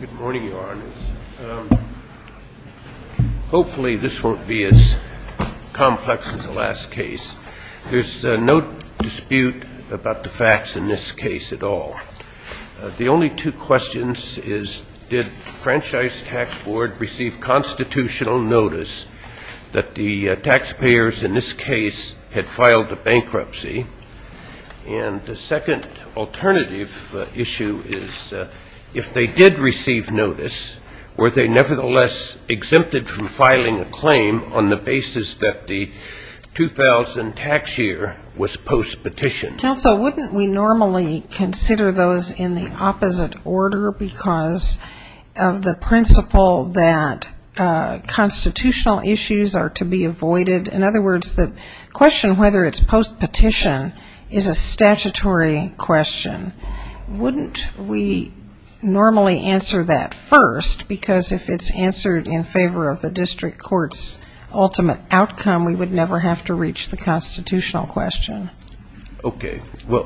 Good morning, Your Honors. Hopefully this won't be as complex as the last case. There's no dispute about the facts in this case at all. The only two questions is did Franchise Tax Board receive constitutional notice that the taxpayers in this case had filed a bankruptcy? And the second alternative issue is if they did receive notice, were they nevertheless exempted from filing a claim on the basis that the 2000 tax year was post-petition? Counsel, wouldn't we normally consider those in the opposite order because of the principle that constitutional issues are to be avoided? In other words, the question whether it's post-petition is a statutory question. Wouldn't we normally answer that first? Because if it's answered in favor of the district court's ultimate outcome, we would never have to reach the constitutional question. Okay. Well,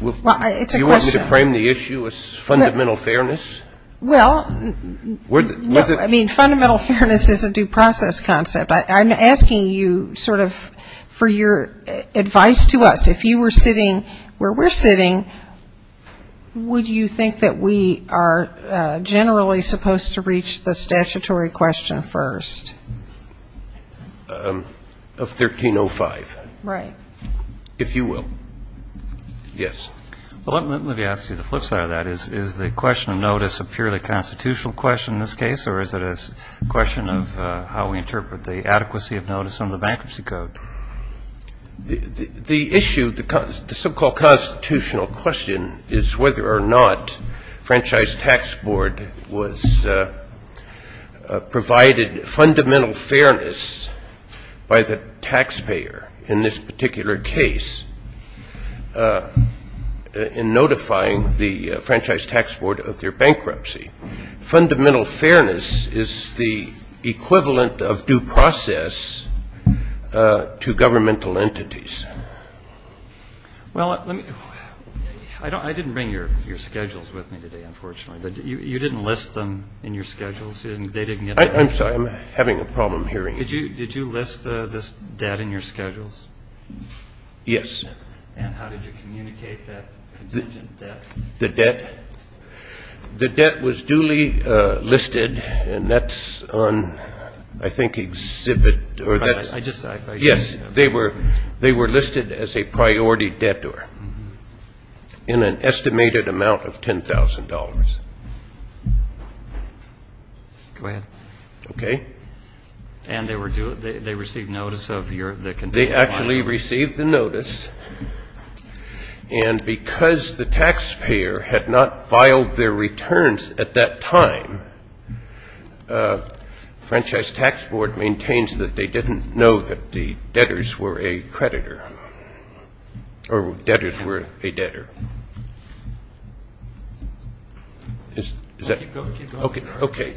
do you want me to frame the issue as fundamental fairness? Well, I mean, fundamental fairness is a due process concept. I'm asking you sort of for your advice to us. If you were sitting where we're sitting, would you think that we are generally supposed to reach the statutory question first? Of 1305. Right. If you will. Yes. Well, let me ask you the flip side of that. Is the question of notice a purely constitutional question in this case or is it a question of how we interpret the adequacy of notice under the bankruptcy code? The issue, the so-called constitutional question, is whether or not the Franchise Tax Board was provided fundamental fairness by the taxpayer in this particular case in notifying the Franchise Tax Board of their bankruptcy. Fundamental fairness is the equivalent of due process to governmental entities. Well, I didn't bring your schedules with me today, unfortunately. But you didn't list them in your schedules? I'm sorry. I'm having a problem hearing you. Did you list this debt in your schedules? Yes. And how did you communicate that contingent debt? The debt? The debt was duly listed, and that's on, I think, exhibit or that's ‑‑ I just ‑‑ Yes. They were listed as a priority debtor in an estimated amount of $10,000. Go ahead. Okay. And they received notice of your ‑‑ They actually received the notice. And because the taxpayer had not filed their returns at that time, Franchise Tax Board maintains that they didn't know that the debtors were a creditor or debtors were a debtor. Is that ‑‑ Keep going. Okay.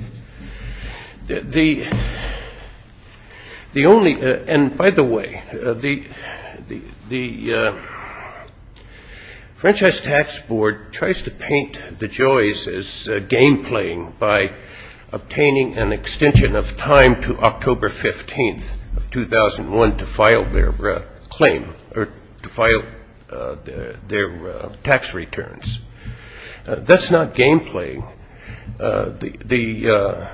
The only ‑‑ and, by the way, the Franchise Tax Board tries to paint the Joys as game playing by obtaining an extension of time to October 15th of 2001 to file their claim or to file their tax returns. That's not game playing. The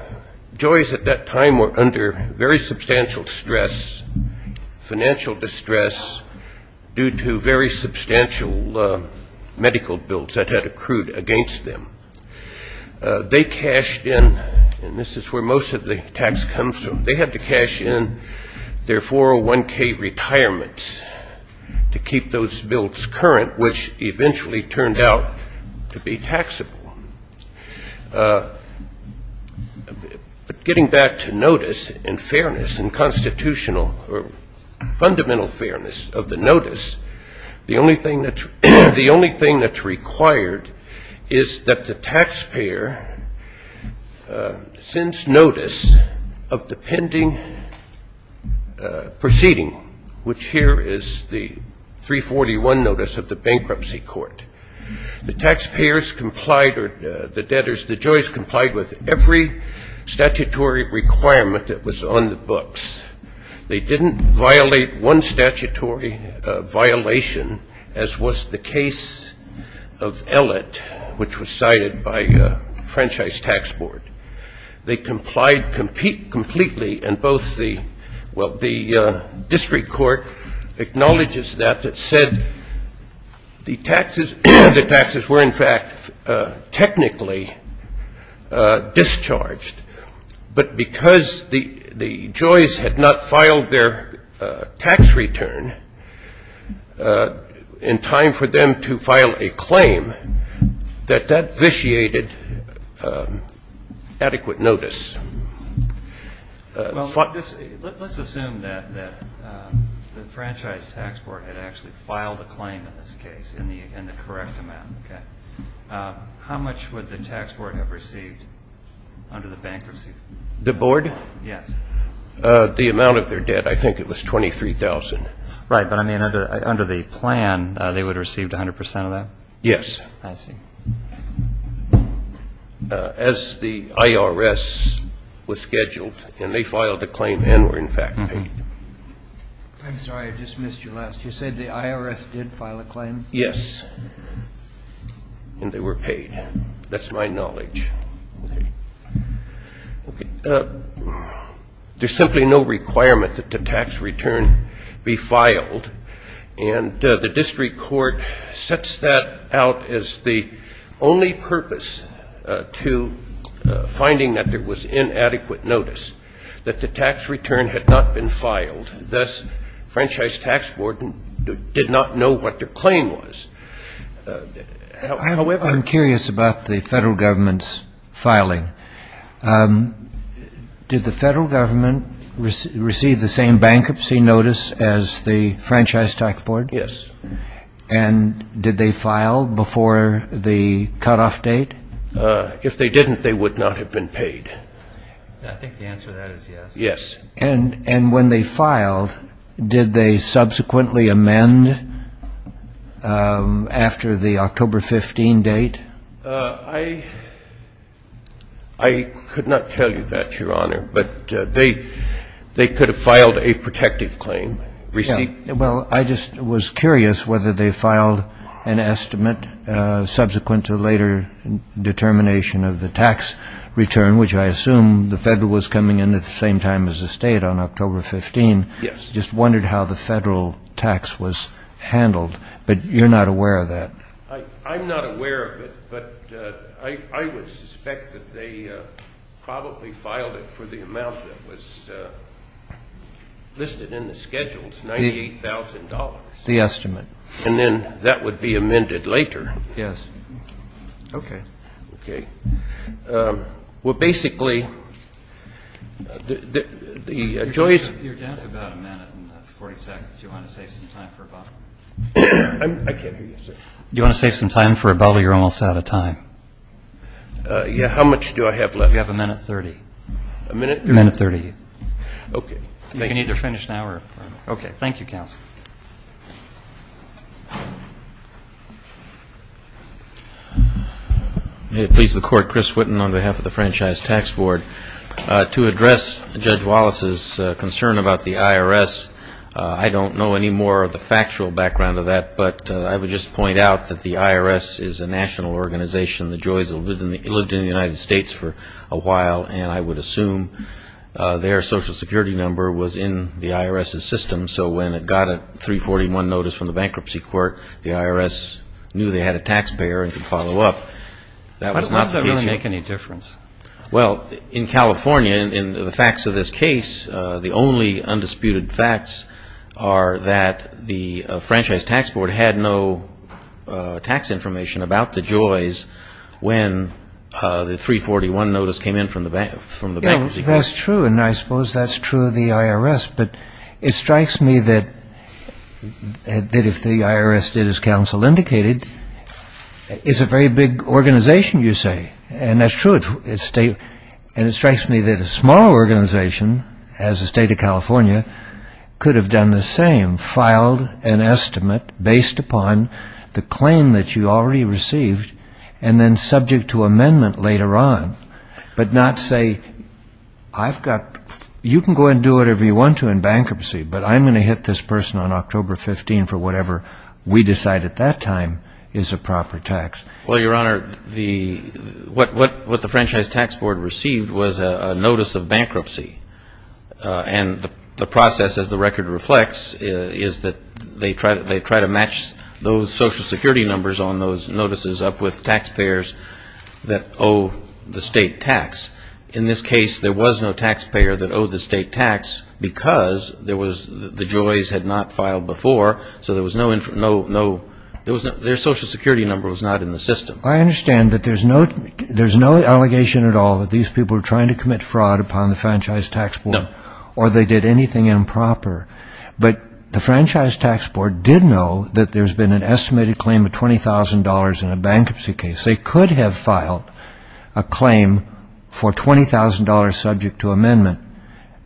Joys at that time were under very substantial stress, financial distress, due to very substantial medical bills that had accrued against them. They cashed in, and this is where most of the tax comes from, they had to cash in their 401K retirements to keep those bills current, which eventually turned out to be taxable. But getting back to notice and fairness and constitutional or fundamental fairness of the notice, the only thing that's required is that the taxpayer sends notice of the pending proceeding, which here is the 341 notice of the bankruptcy court. The taxpayers complied or the debtors, the Joys, complied with every statutory requirement that was on the books. They didn't violate one statutory violation, as was the case of Ellett, which was cited by Franchise Tax Board. They complied completely, and both the district court acknowledges that, that said the taxes were, in fact, technically discharged, but because the Joys had not filed their tax return in time for them to file a claim, that that vitiated adequate notice. Let's assume that the Franchise Tax Board had actually filed a claim in this case in the correct amount. How much would the tax board have received under the bankruptcy? The board? Yes. The amount of their debt, I think it was $23,000. Right. But, I mean, under the plan, they would have received 100% of that? Yes. I see. As the IRS was scheduled, and they filed a claim and were, in fact, paid. I'm sorry, I just missed you last. You said the IRS did file a claim? Yes, and they were paid. That's my knowledge. There's simply no requirement that the tax return be filed, and the district court sets that out as the only purpose to finding that there was inadequate notice, that the tax return had not been filed. Thus, Franchise Tax Board did not know what their claim was. However. Did the federal government receive the same bankruptcy notice as the Franchise Tax Board? Yes. And did they file before the cutoff date? If they didn't, they would not have been paid. I think the answer to that is yes. Yes. And when they filed, did they subsequently amend after the October 15 date? I could not tell you that, Your Honor, but they could have filed a protective claim. Well, I just was curious whether they filed an estimate subsequent to later determination of the tax return, which I assume the federal was coming in at the same time as the state on October 15. Yes. Just wondered how the federal tax was handled. But you're not aware of that. I'm not aware of it, but I would suspect that they probably filed it for the amount that was listed in the schedule. It's $98,000. The estimate. And then that would be amended later. Yes. Okay. Okay. Well, basically, the Joyce ---- Your time is about a minute and 40 seconds. Do you want to save some time for Bob? I can't hear you, sir. Do you want to save some time for Bob or you're almost out of time? Yeah. How much do I have left? You have a minute 30. A minute? A minute 30. Okay. You can either finish now or ---- Okay. Thank you, counsel. May it please the Court, Chris Witten on behalf of the Franchise Tax Board. To address Judge Wallace's concern about the IRS, I don't know any more of the factual background of that, but I would just point out that the IRS is a national organization. The Joyce lived in the United States for a while, and I would assume their Social Security number was in the IRS's system. So when it got a 341 notice from the bankruptcy court, the IRS knew they had a taxpayer and could follow up. Why does that really make any difference? Well, in California, in the facts of this case, the only undisputed facts are that the Franchise Tax Board had no tax information about the Joyce when the 341 notice came in from the bankruptcy court. Yeah, that's true, and I suppose that's true of the IRS. But it strikes me that if the IRS did, as counsel indicated, it's a very big organization, you say. And that's true. And it strikes me that a small organization, as the State of California, could have done the same, filed an estimate based upon the claim that you already received and then subject to amendment later on, but not say, I've got, you can go and do whatever you want to in bankruptcy, but I'm going to hit this person on October 15 for whatever we decide at that time is a proper tax. Well, Your Honor, what the Franchise Tax Board received was a notice of bankruptcy. And the process, as the record reflects, is that they try to match those Social Security numbers on those notices up with taxpayers that owe the state tax. In this case, there was no taxpayer that owed the state tax because the Joyce had not filed before, so there was no, their Social Security number was not in the system. I understand that there's no allegation at all that these people are trying to commit fraud upon the Franchise Tax Board. No. Or they did anything improper. But the Franchise Tax Board did know that there's been an estimated claim of $20,000 in a bankruptcy case. They could have filed a claim for $20,000 subject to amendment.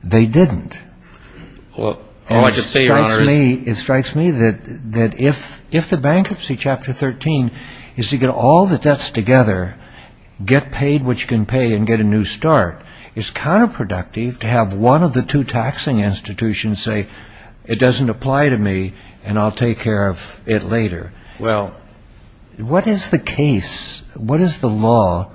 They didn't. It strikes me that if the Bankruptcy Chapter 13 is to get all the debts together, get paid what you can pay and get a new start, it's counterproductive to have one of the two taxing institutions say, it doesn't apply to me and I'll take care of it later. Well. What is the case, what is the law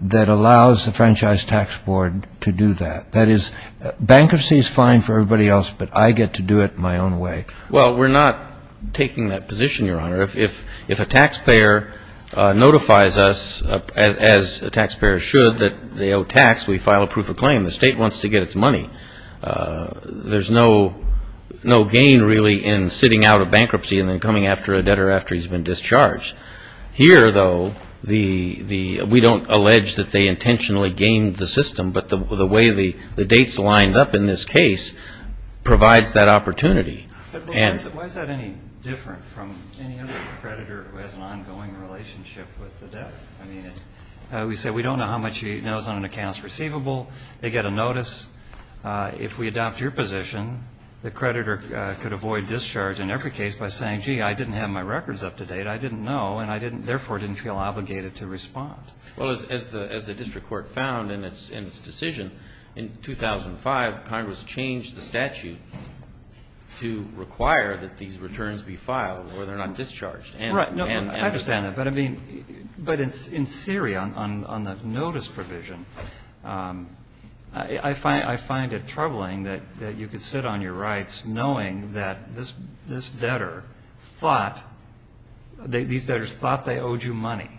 that allows the Franchise Tax Board to do that? That is, bankruptcy is fine for everybody else, but I get to do it my own way. Well, we're not taking that position, Your Honor. If a taxpayer notifies us, as a taxpayer should, that they owe tax, we file a proof of claim. The state wants to get its money. There's no gain really in sitting out a bankruptcy and then coming after a debtor after he's been discharged. Here, though, we don't allege that they intentionally gained the system, but the way the dates lined up in this case provides that opportunity. Why is that any different from any other creditor who has an ongoing relationship with the debtor? I mean, we say we don't know how much he knows on an account that's receivable. They get a notice. If we adopt your position, the creditor could avoid discharge in every case by saying, gee, I didn't have my records up to date. I didn't know, and I therefore didn't feel obligated to respond. Well, as the district court found in its decision, in 2005, Congress changed the statute to require that these returns be filed or they're not discharged. Right. I understand that. But, I mean, in theory, on the notice provision, I find it troubling that you could sit on your rights knowing that this debtor thought, these debtors thought they owed you money,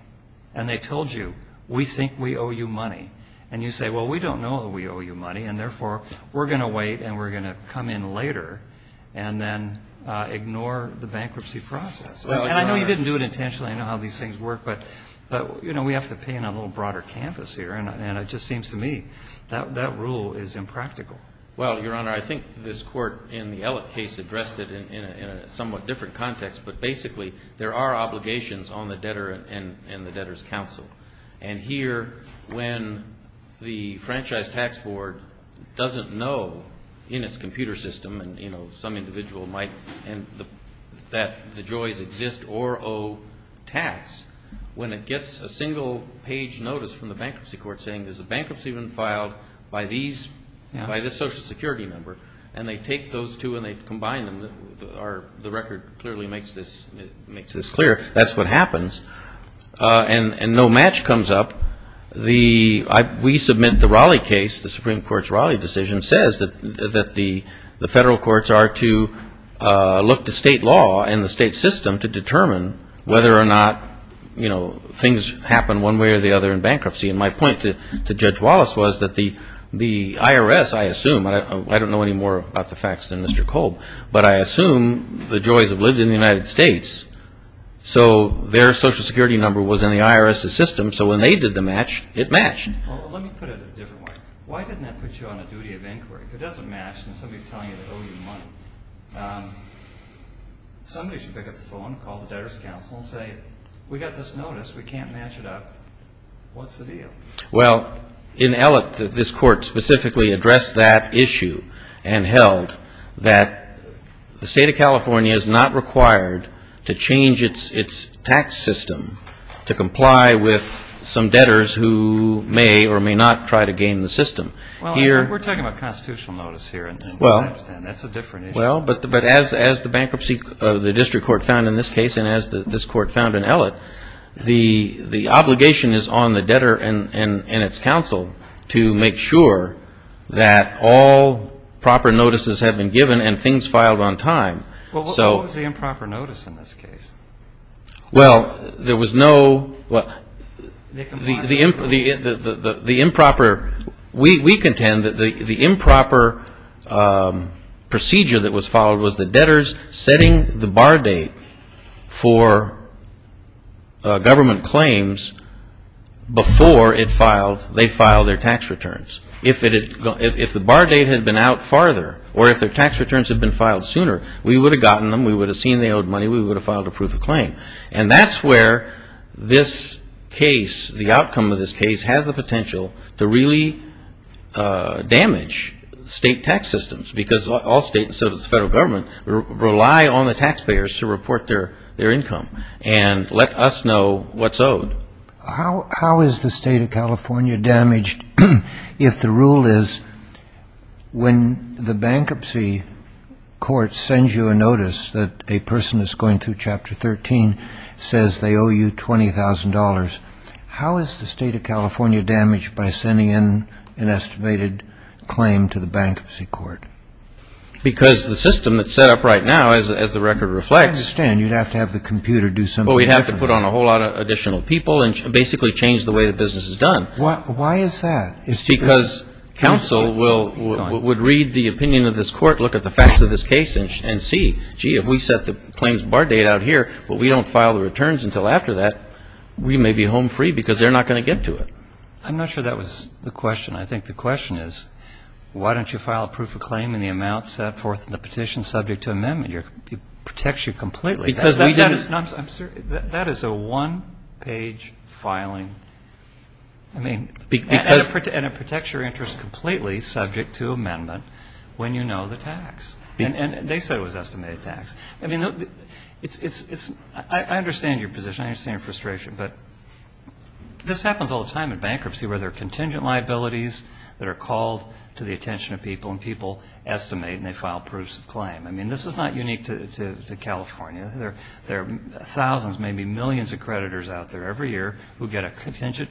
and they told you, we think we owe you money. And you say, well, we don't know that we owe you money, and therefore we're going to wait and we're going to come in later and then ignore the bankruptcy process. And I know you didn't do it intentionally. I know how these things work. But, you know, we have to paint a little broader canvas here, and it just seems to me that rule is impractical. Well, Your Honor, I think this court in the Ellett case addressed it in a somewhat different context, but basically there are obligations on the debtor and the debtor's counsel. And here, when the franchise tax board doesn't know in its computer system, and, you know, some individual might, that the joys exist or owe tax, when it gets a single-page notice from the bankruptcy court saying, is the bankruptcy been filed by this Social Security member? And they take those two and they combine them. The record clearly makes this clear. That's what happens. And no match comes up. We submit the Raleigh case, the Supreme Court's Raleigh decision, says that the federal courts are to look to state law and the state system to determine whether And my point to Judge Wallace was that the IRS, I assume, I don't know any more about the facts than Mr. Kolb, but I assume the Joys have lived in the United States. So their Social Security number was in the IRS's system. So when they did the match, it matched. Well, let me put it a different way. Why didn't that put you on a duty of inquiry? If it doesn't match and somebody's telling you they owe you money, somebody should pick up the phone, call the debtor's counsel and say, we got this notice, we can't match it up, what's the deal? Well, in Ellett, this court specifically addressed that issue and held that the state of California is not required to change its tax system to comply with some debtors who may or may not try to gain the system. Well, we're talking about constitutional notice here. That's a different issue. Well, but as the bankruptcy of the district court found in this case and as this court found in Ellett, the obligation is on the debtor and its counsel to make sure that all proper notices have been given and things filed on time. Well, what was the improper notice in this case? Well, there was no – the improper – we contend that the improper procedure that was followed was the debtors setting the bar date for government claims before they filed their tax returns. If the bar date had been out farther or if their tax returns had been filed sooner, we would have gotten them, we would have seen they owed money, we would have filed a proof of claim. And that's where this case, the outcome of this case, has the potential to really damage state tax systems because all states, instead of the federal government, rely on the taxpayers to report their income and let us know what's owed. How is the state of California damaged if the rule is when the bankruptcy court sends you a notice that a person that's going through Chapter 13 says they owe you $20,000, how is the state of California damaged by sending in an estimated claim to the bankruptcy court? Because the system that's set up right now, as the record reflects – I understand. You'd have to have the computer do something different. Well, we'd have to put on a whole lot of additional people and basically change the way the business is done. Why is that? It's because counsel will – would read the opinion of this court, look at the facts of this case and see, gee, if we set the claims bar date out here but we don't file the returns until after that, we may be home free because they're not going to get to it. I'm not sure that was the question. I think the question is, why don't you file a proof of claim in the amount set forth in the petition subject to amendment? It protects you completely. Because we didn't – No, I'm – that is a one-page filing. I mean – And it protects your interest completely subject to amendment when you know the tax. And they said it was estimated tax. I mean, it's – I understand your position. I understand your frustration. But this happens all the time in bankruptcy where there are contingent liabilities that are called to the attention of people and people estimate and they file proofs of claim. I mean, this is not unique to California. There are thousands, maybe millions of creditors out there every year who get a contingent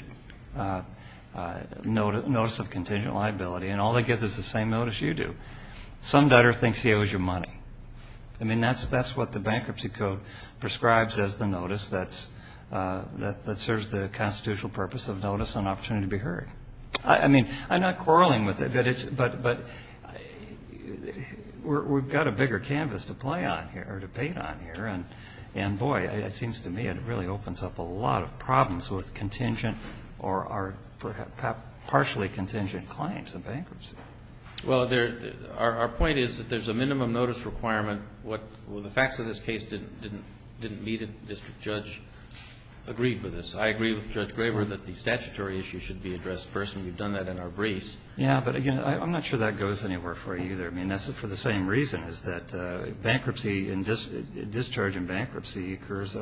– notice of contingent liability, and all they get is the same notice you do. Some debtor thinks he owes you money. I mean, that's what the Bankruptcy Code prescribes as the notice that serves the constitutional purpose of notice and opportunity to be heard. I mean, I'm not quarreling with it, but we've got a bigger canvas to play on here or debate on here. And, boy, it seems to me it really opens up a lot of problems with contingent or partially contingent claims in bankruptcy. Well, our point is that there's a minimum notice requirement. The facts of this case didn't meet it. District Judge agreed with this. I agree with Judge Graber that the statutory issue should be addressed first, and we've done that in our briefs. Yeah, but, again, I'm not sure that goes anywhere for you either. I mean, that's for the same reason, is that bankruptcy and discharge in bankruptcy occurs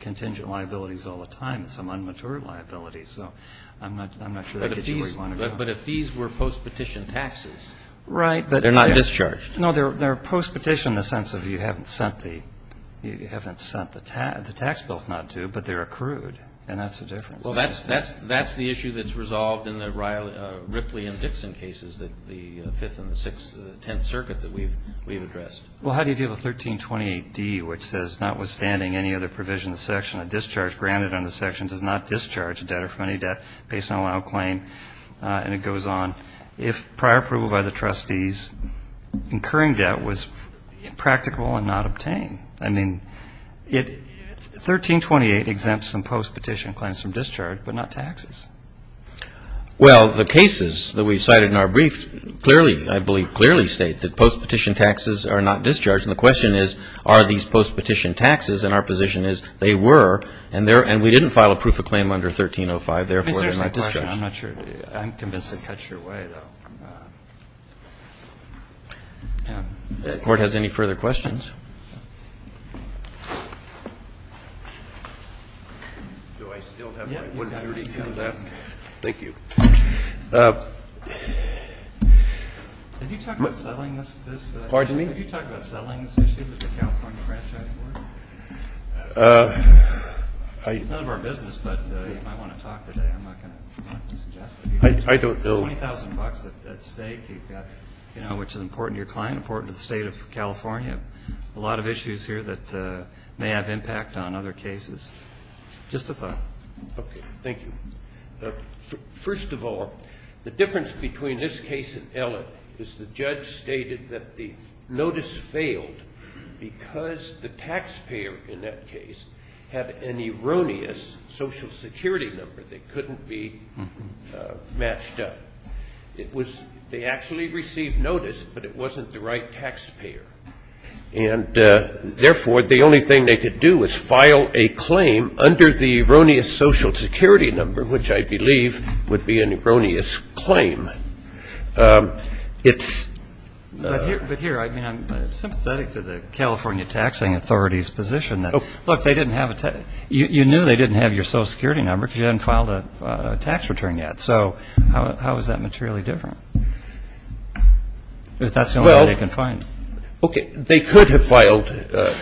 contingent liabilities all the time. It's an unmatured liability. So I'm not sure that gets you where you want to go. But if these were postpetition taxes. Right. They're not discharged. No, they're postpetition in the sense of you haven't sent the tax bills not due, but they're accrued, and that's the difference. Well, that's the issue that's resolved in the Ripley and Dixon cases, the Fifth and the Sixth, the Tenth Circuit that we've addressed. Well, how do you deal with 1328d, which says, notwithstanding any other provision in the section, a discharge granted under the section does not discharge a debtor from any debt based on allowed claim, and it goes on, if prior approval by the trustees incurring debt was impractical and not obtained. I mean, 1328 exempts some postpetition claims from discharge, but not taxes. Well, the cases that we've cited in our brief clearly, I believe, clearly state that postpetition taxes are not discharged. And the question is, are these postpetition taxes? And our position is they were, and we didn't file a proof of claim under 1305. Therefore, they're not discharged. I'm not sure. I'm convinced it cuts your way, though. If the Court has any further questions. Do I still have my 130 left? Thank you. Have you talked about settling this? Pardon me? Have you talked about settling this issue with the California Franchise Board? It's none of our business, but you might want to talk today. I'm not going to suggest it. I don't know. Twenty thousand bucks at stake, which is important to your client, important to the State of California. A lot of issues here that may have impact on other cases. Just a thought. Okay. Thank you. First of all, the difference between this case and Ellett is the judge stated that the notice failed because the taxpayer, in that case, had an erroneous Social Security number that couldn't be matched up. They actually received notice, but it wasn't the right taxpayer. And, therefore, the only thing they could do was file a claim under the erroneous Social Security number, which I believe would be an erroneous claim. But here, I mean, I'm sympathetic to the California Taxing Authority's position that, look, you knew they didn't have your Social Security number because you hadn't filed a tax return yet. So how is that materially different? That's the only way they can find it. Okay. They could have filed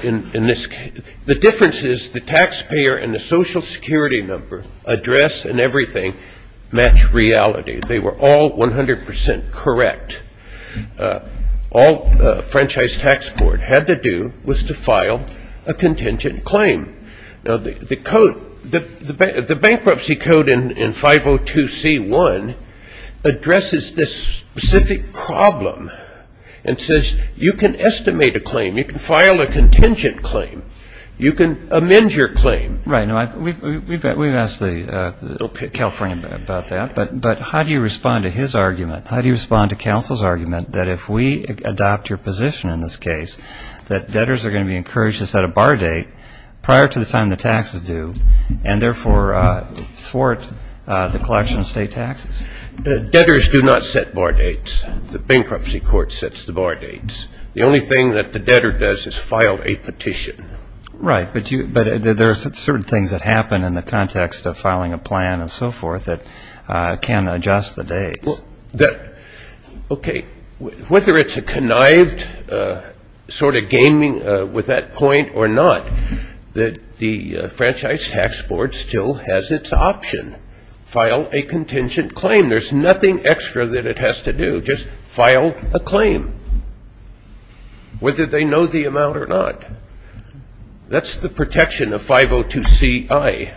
in this case. The difference is the taxpayer and the Social Security number address and everything match reality. Okay. They were all 100% correct. All the Franchise Tax Board had to do was to file a contingent claim. Now, the code, the bankruptcy code in 502C1 addresses this specific problem and says you can estimate a claim. You can file a contingent claim. You can amend your claim. Right. We've asked the California about that, but how do you respond to his argument? How do you respond to counsel's argument that if we adopt your position in this case, that debtors are going to be encouraged to set a bar date prior to the time the taxes due and, therefore, thwart the collection of state taxes? Debtors do not set bar dates. The bankruptcy court sets the bar dates. The only thing that the debtor does is file a petition. Right. But there are certain things that happen in the context of filing a plan and so forth that can adjust the dates. Okay. Whether it's a connived sort of gaming with that point or not, the Franchise Tax Board still has its option. File a contingent claim. There's nothing extra that it has to do. Just file a claim, whether they know the amount or not. That's the protection of 502C-I.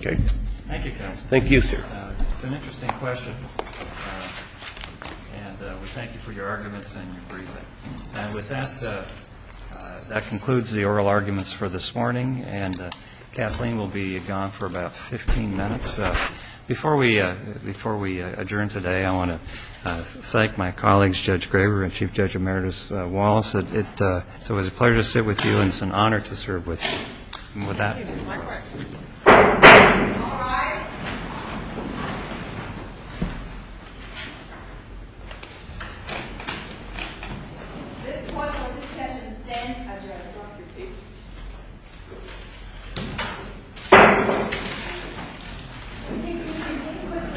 Okay. Thank you, counsel. Thank you, sir. It's an interesting question, and we thank you for your arguments and your briefing. And with that, that concludes the oral arguments for this morning, and Kathleen will be gone for about 15 minutes. Before we adjourn today, I want to thank my colleagues, Judge Graber and Chief Judge Emeritus Wallace. It was a pleasure to sit with you, and it's an honor to serve with you. Thank you. All rise. This session is then adjourned.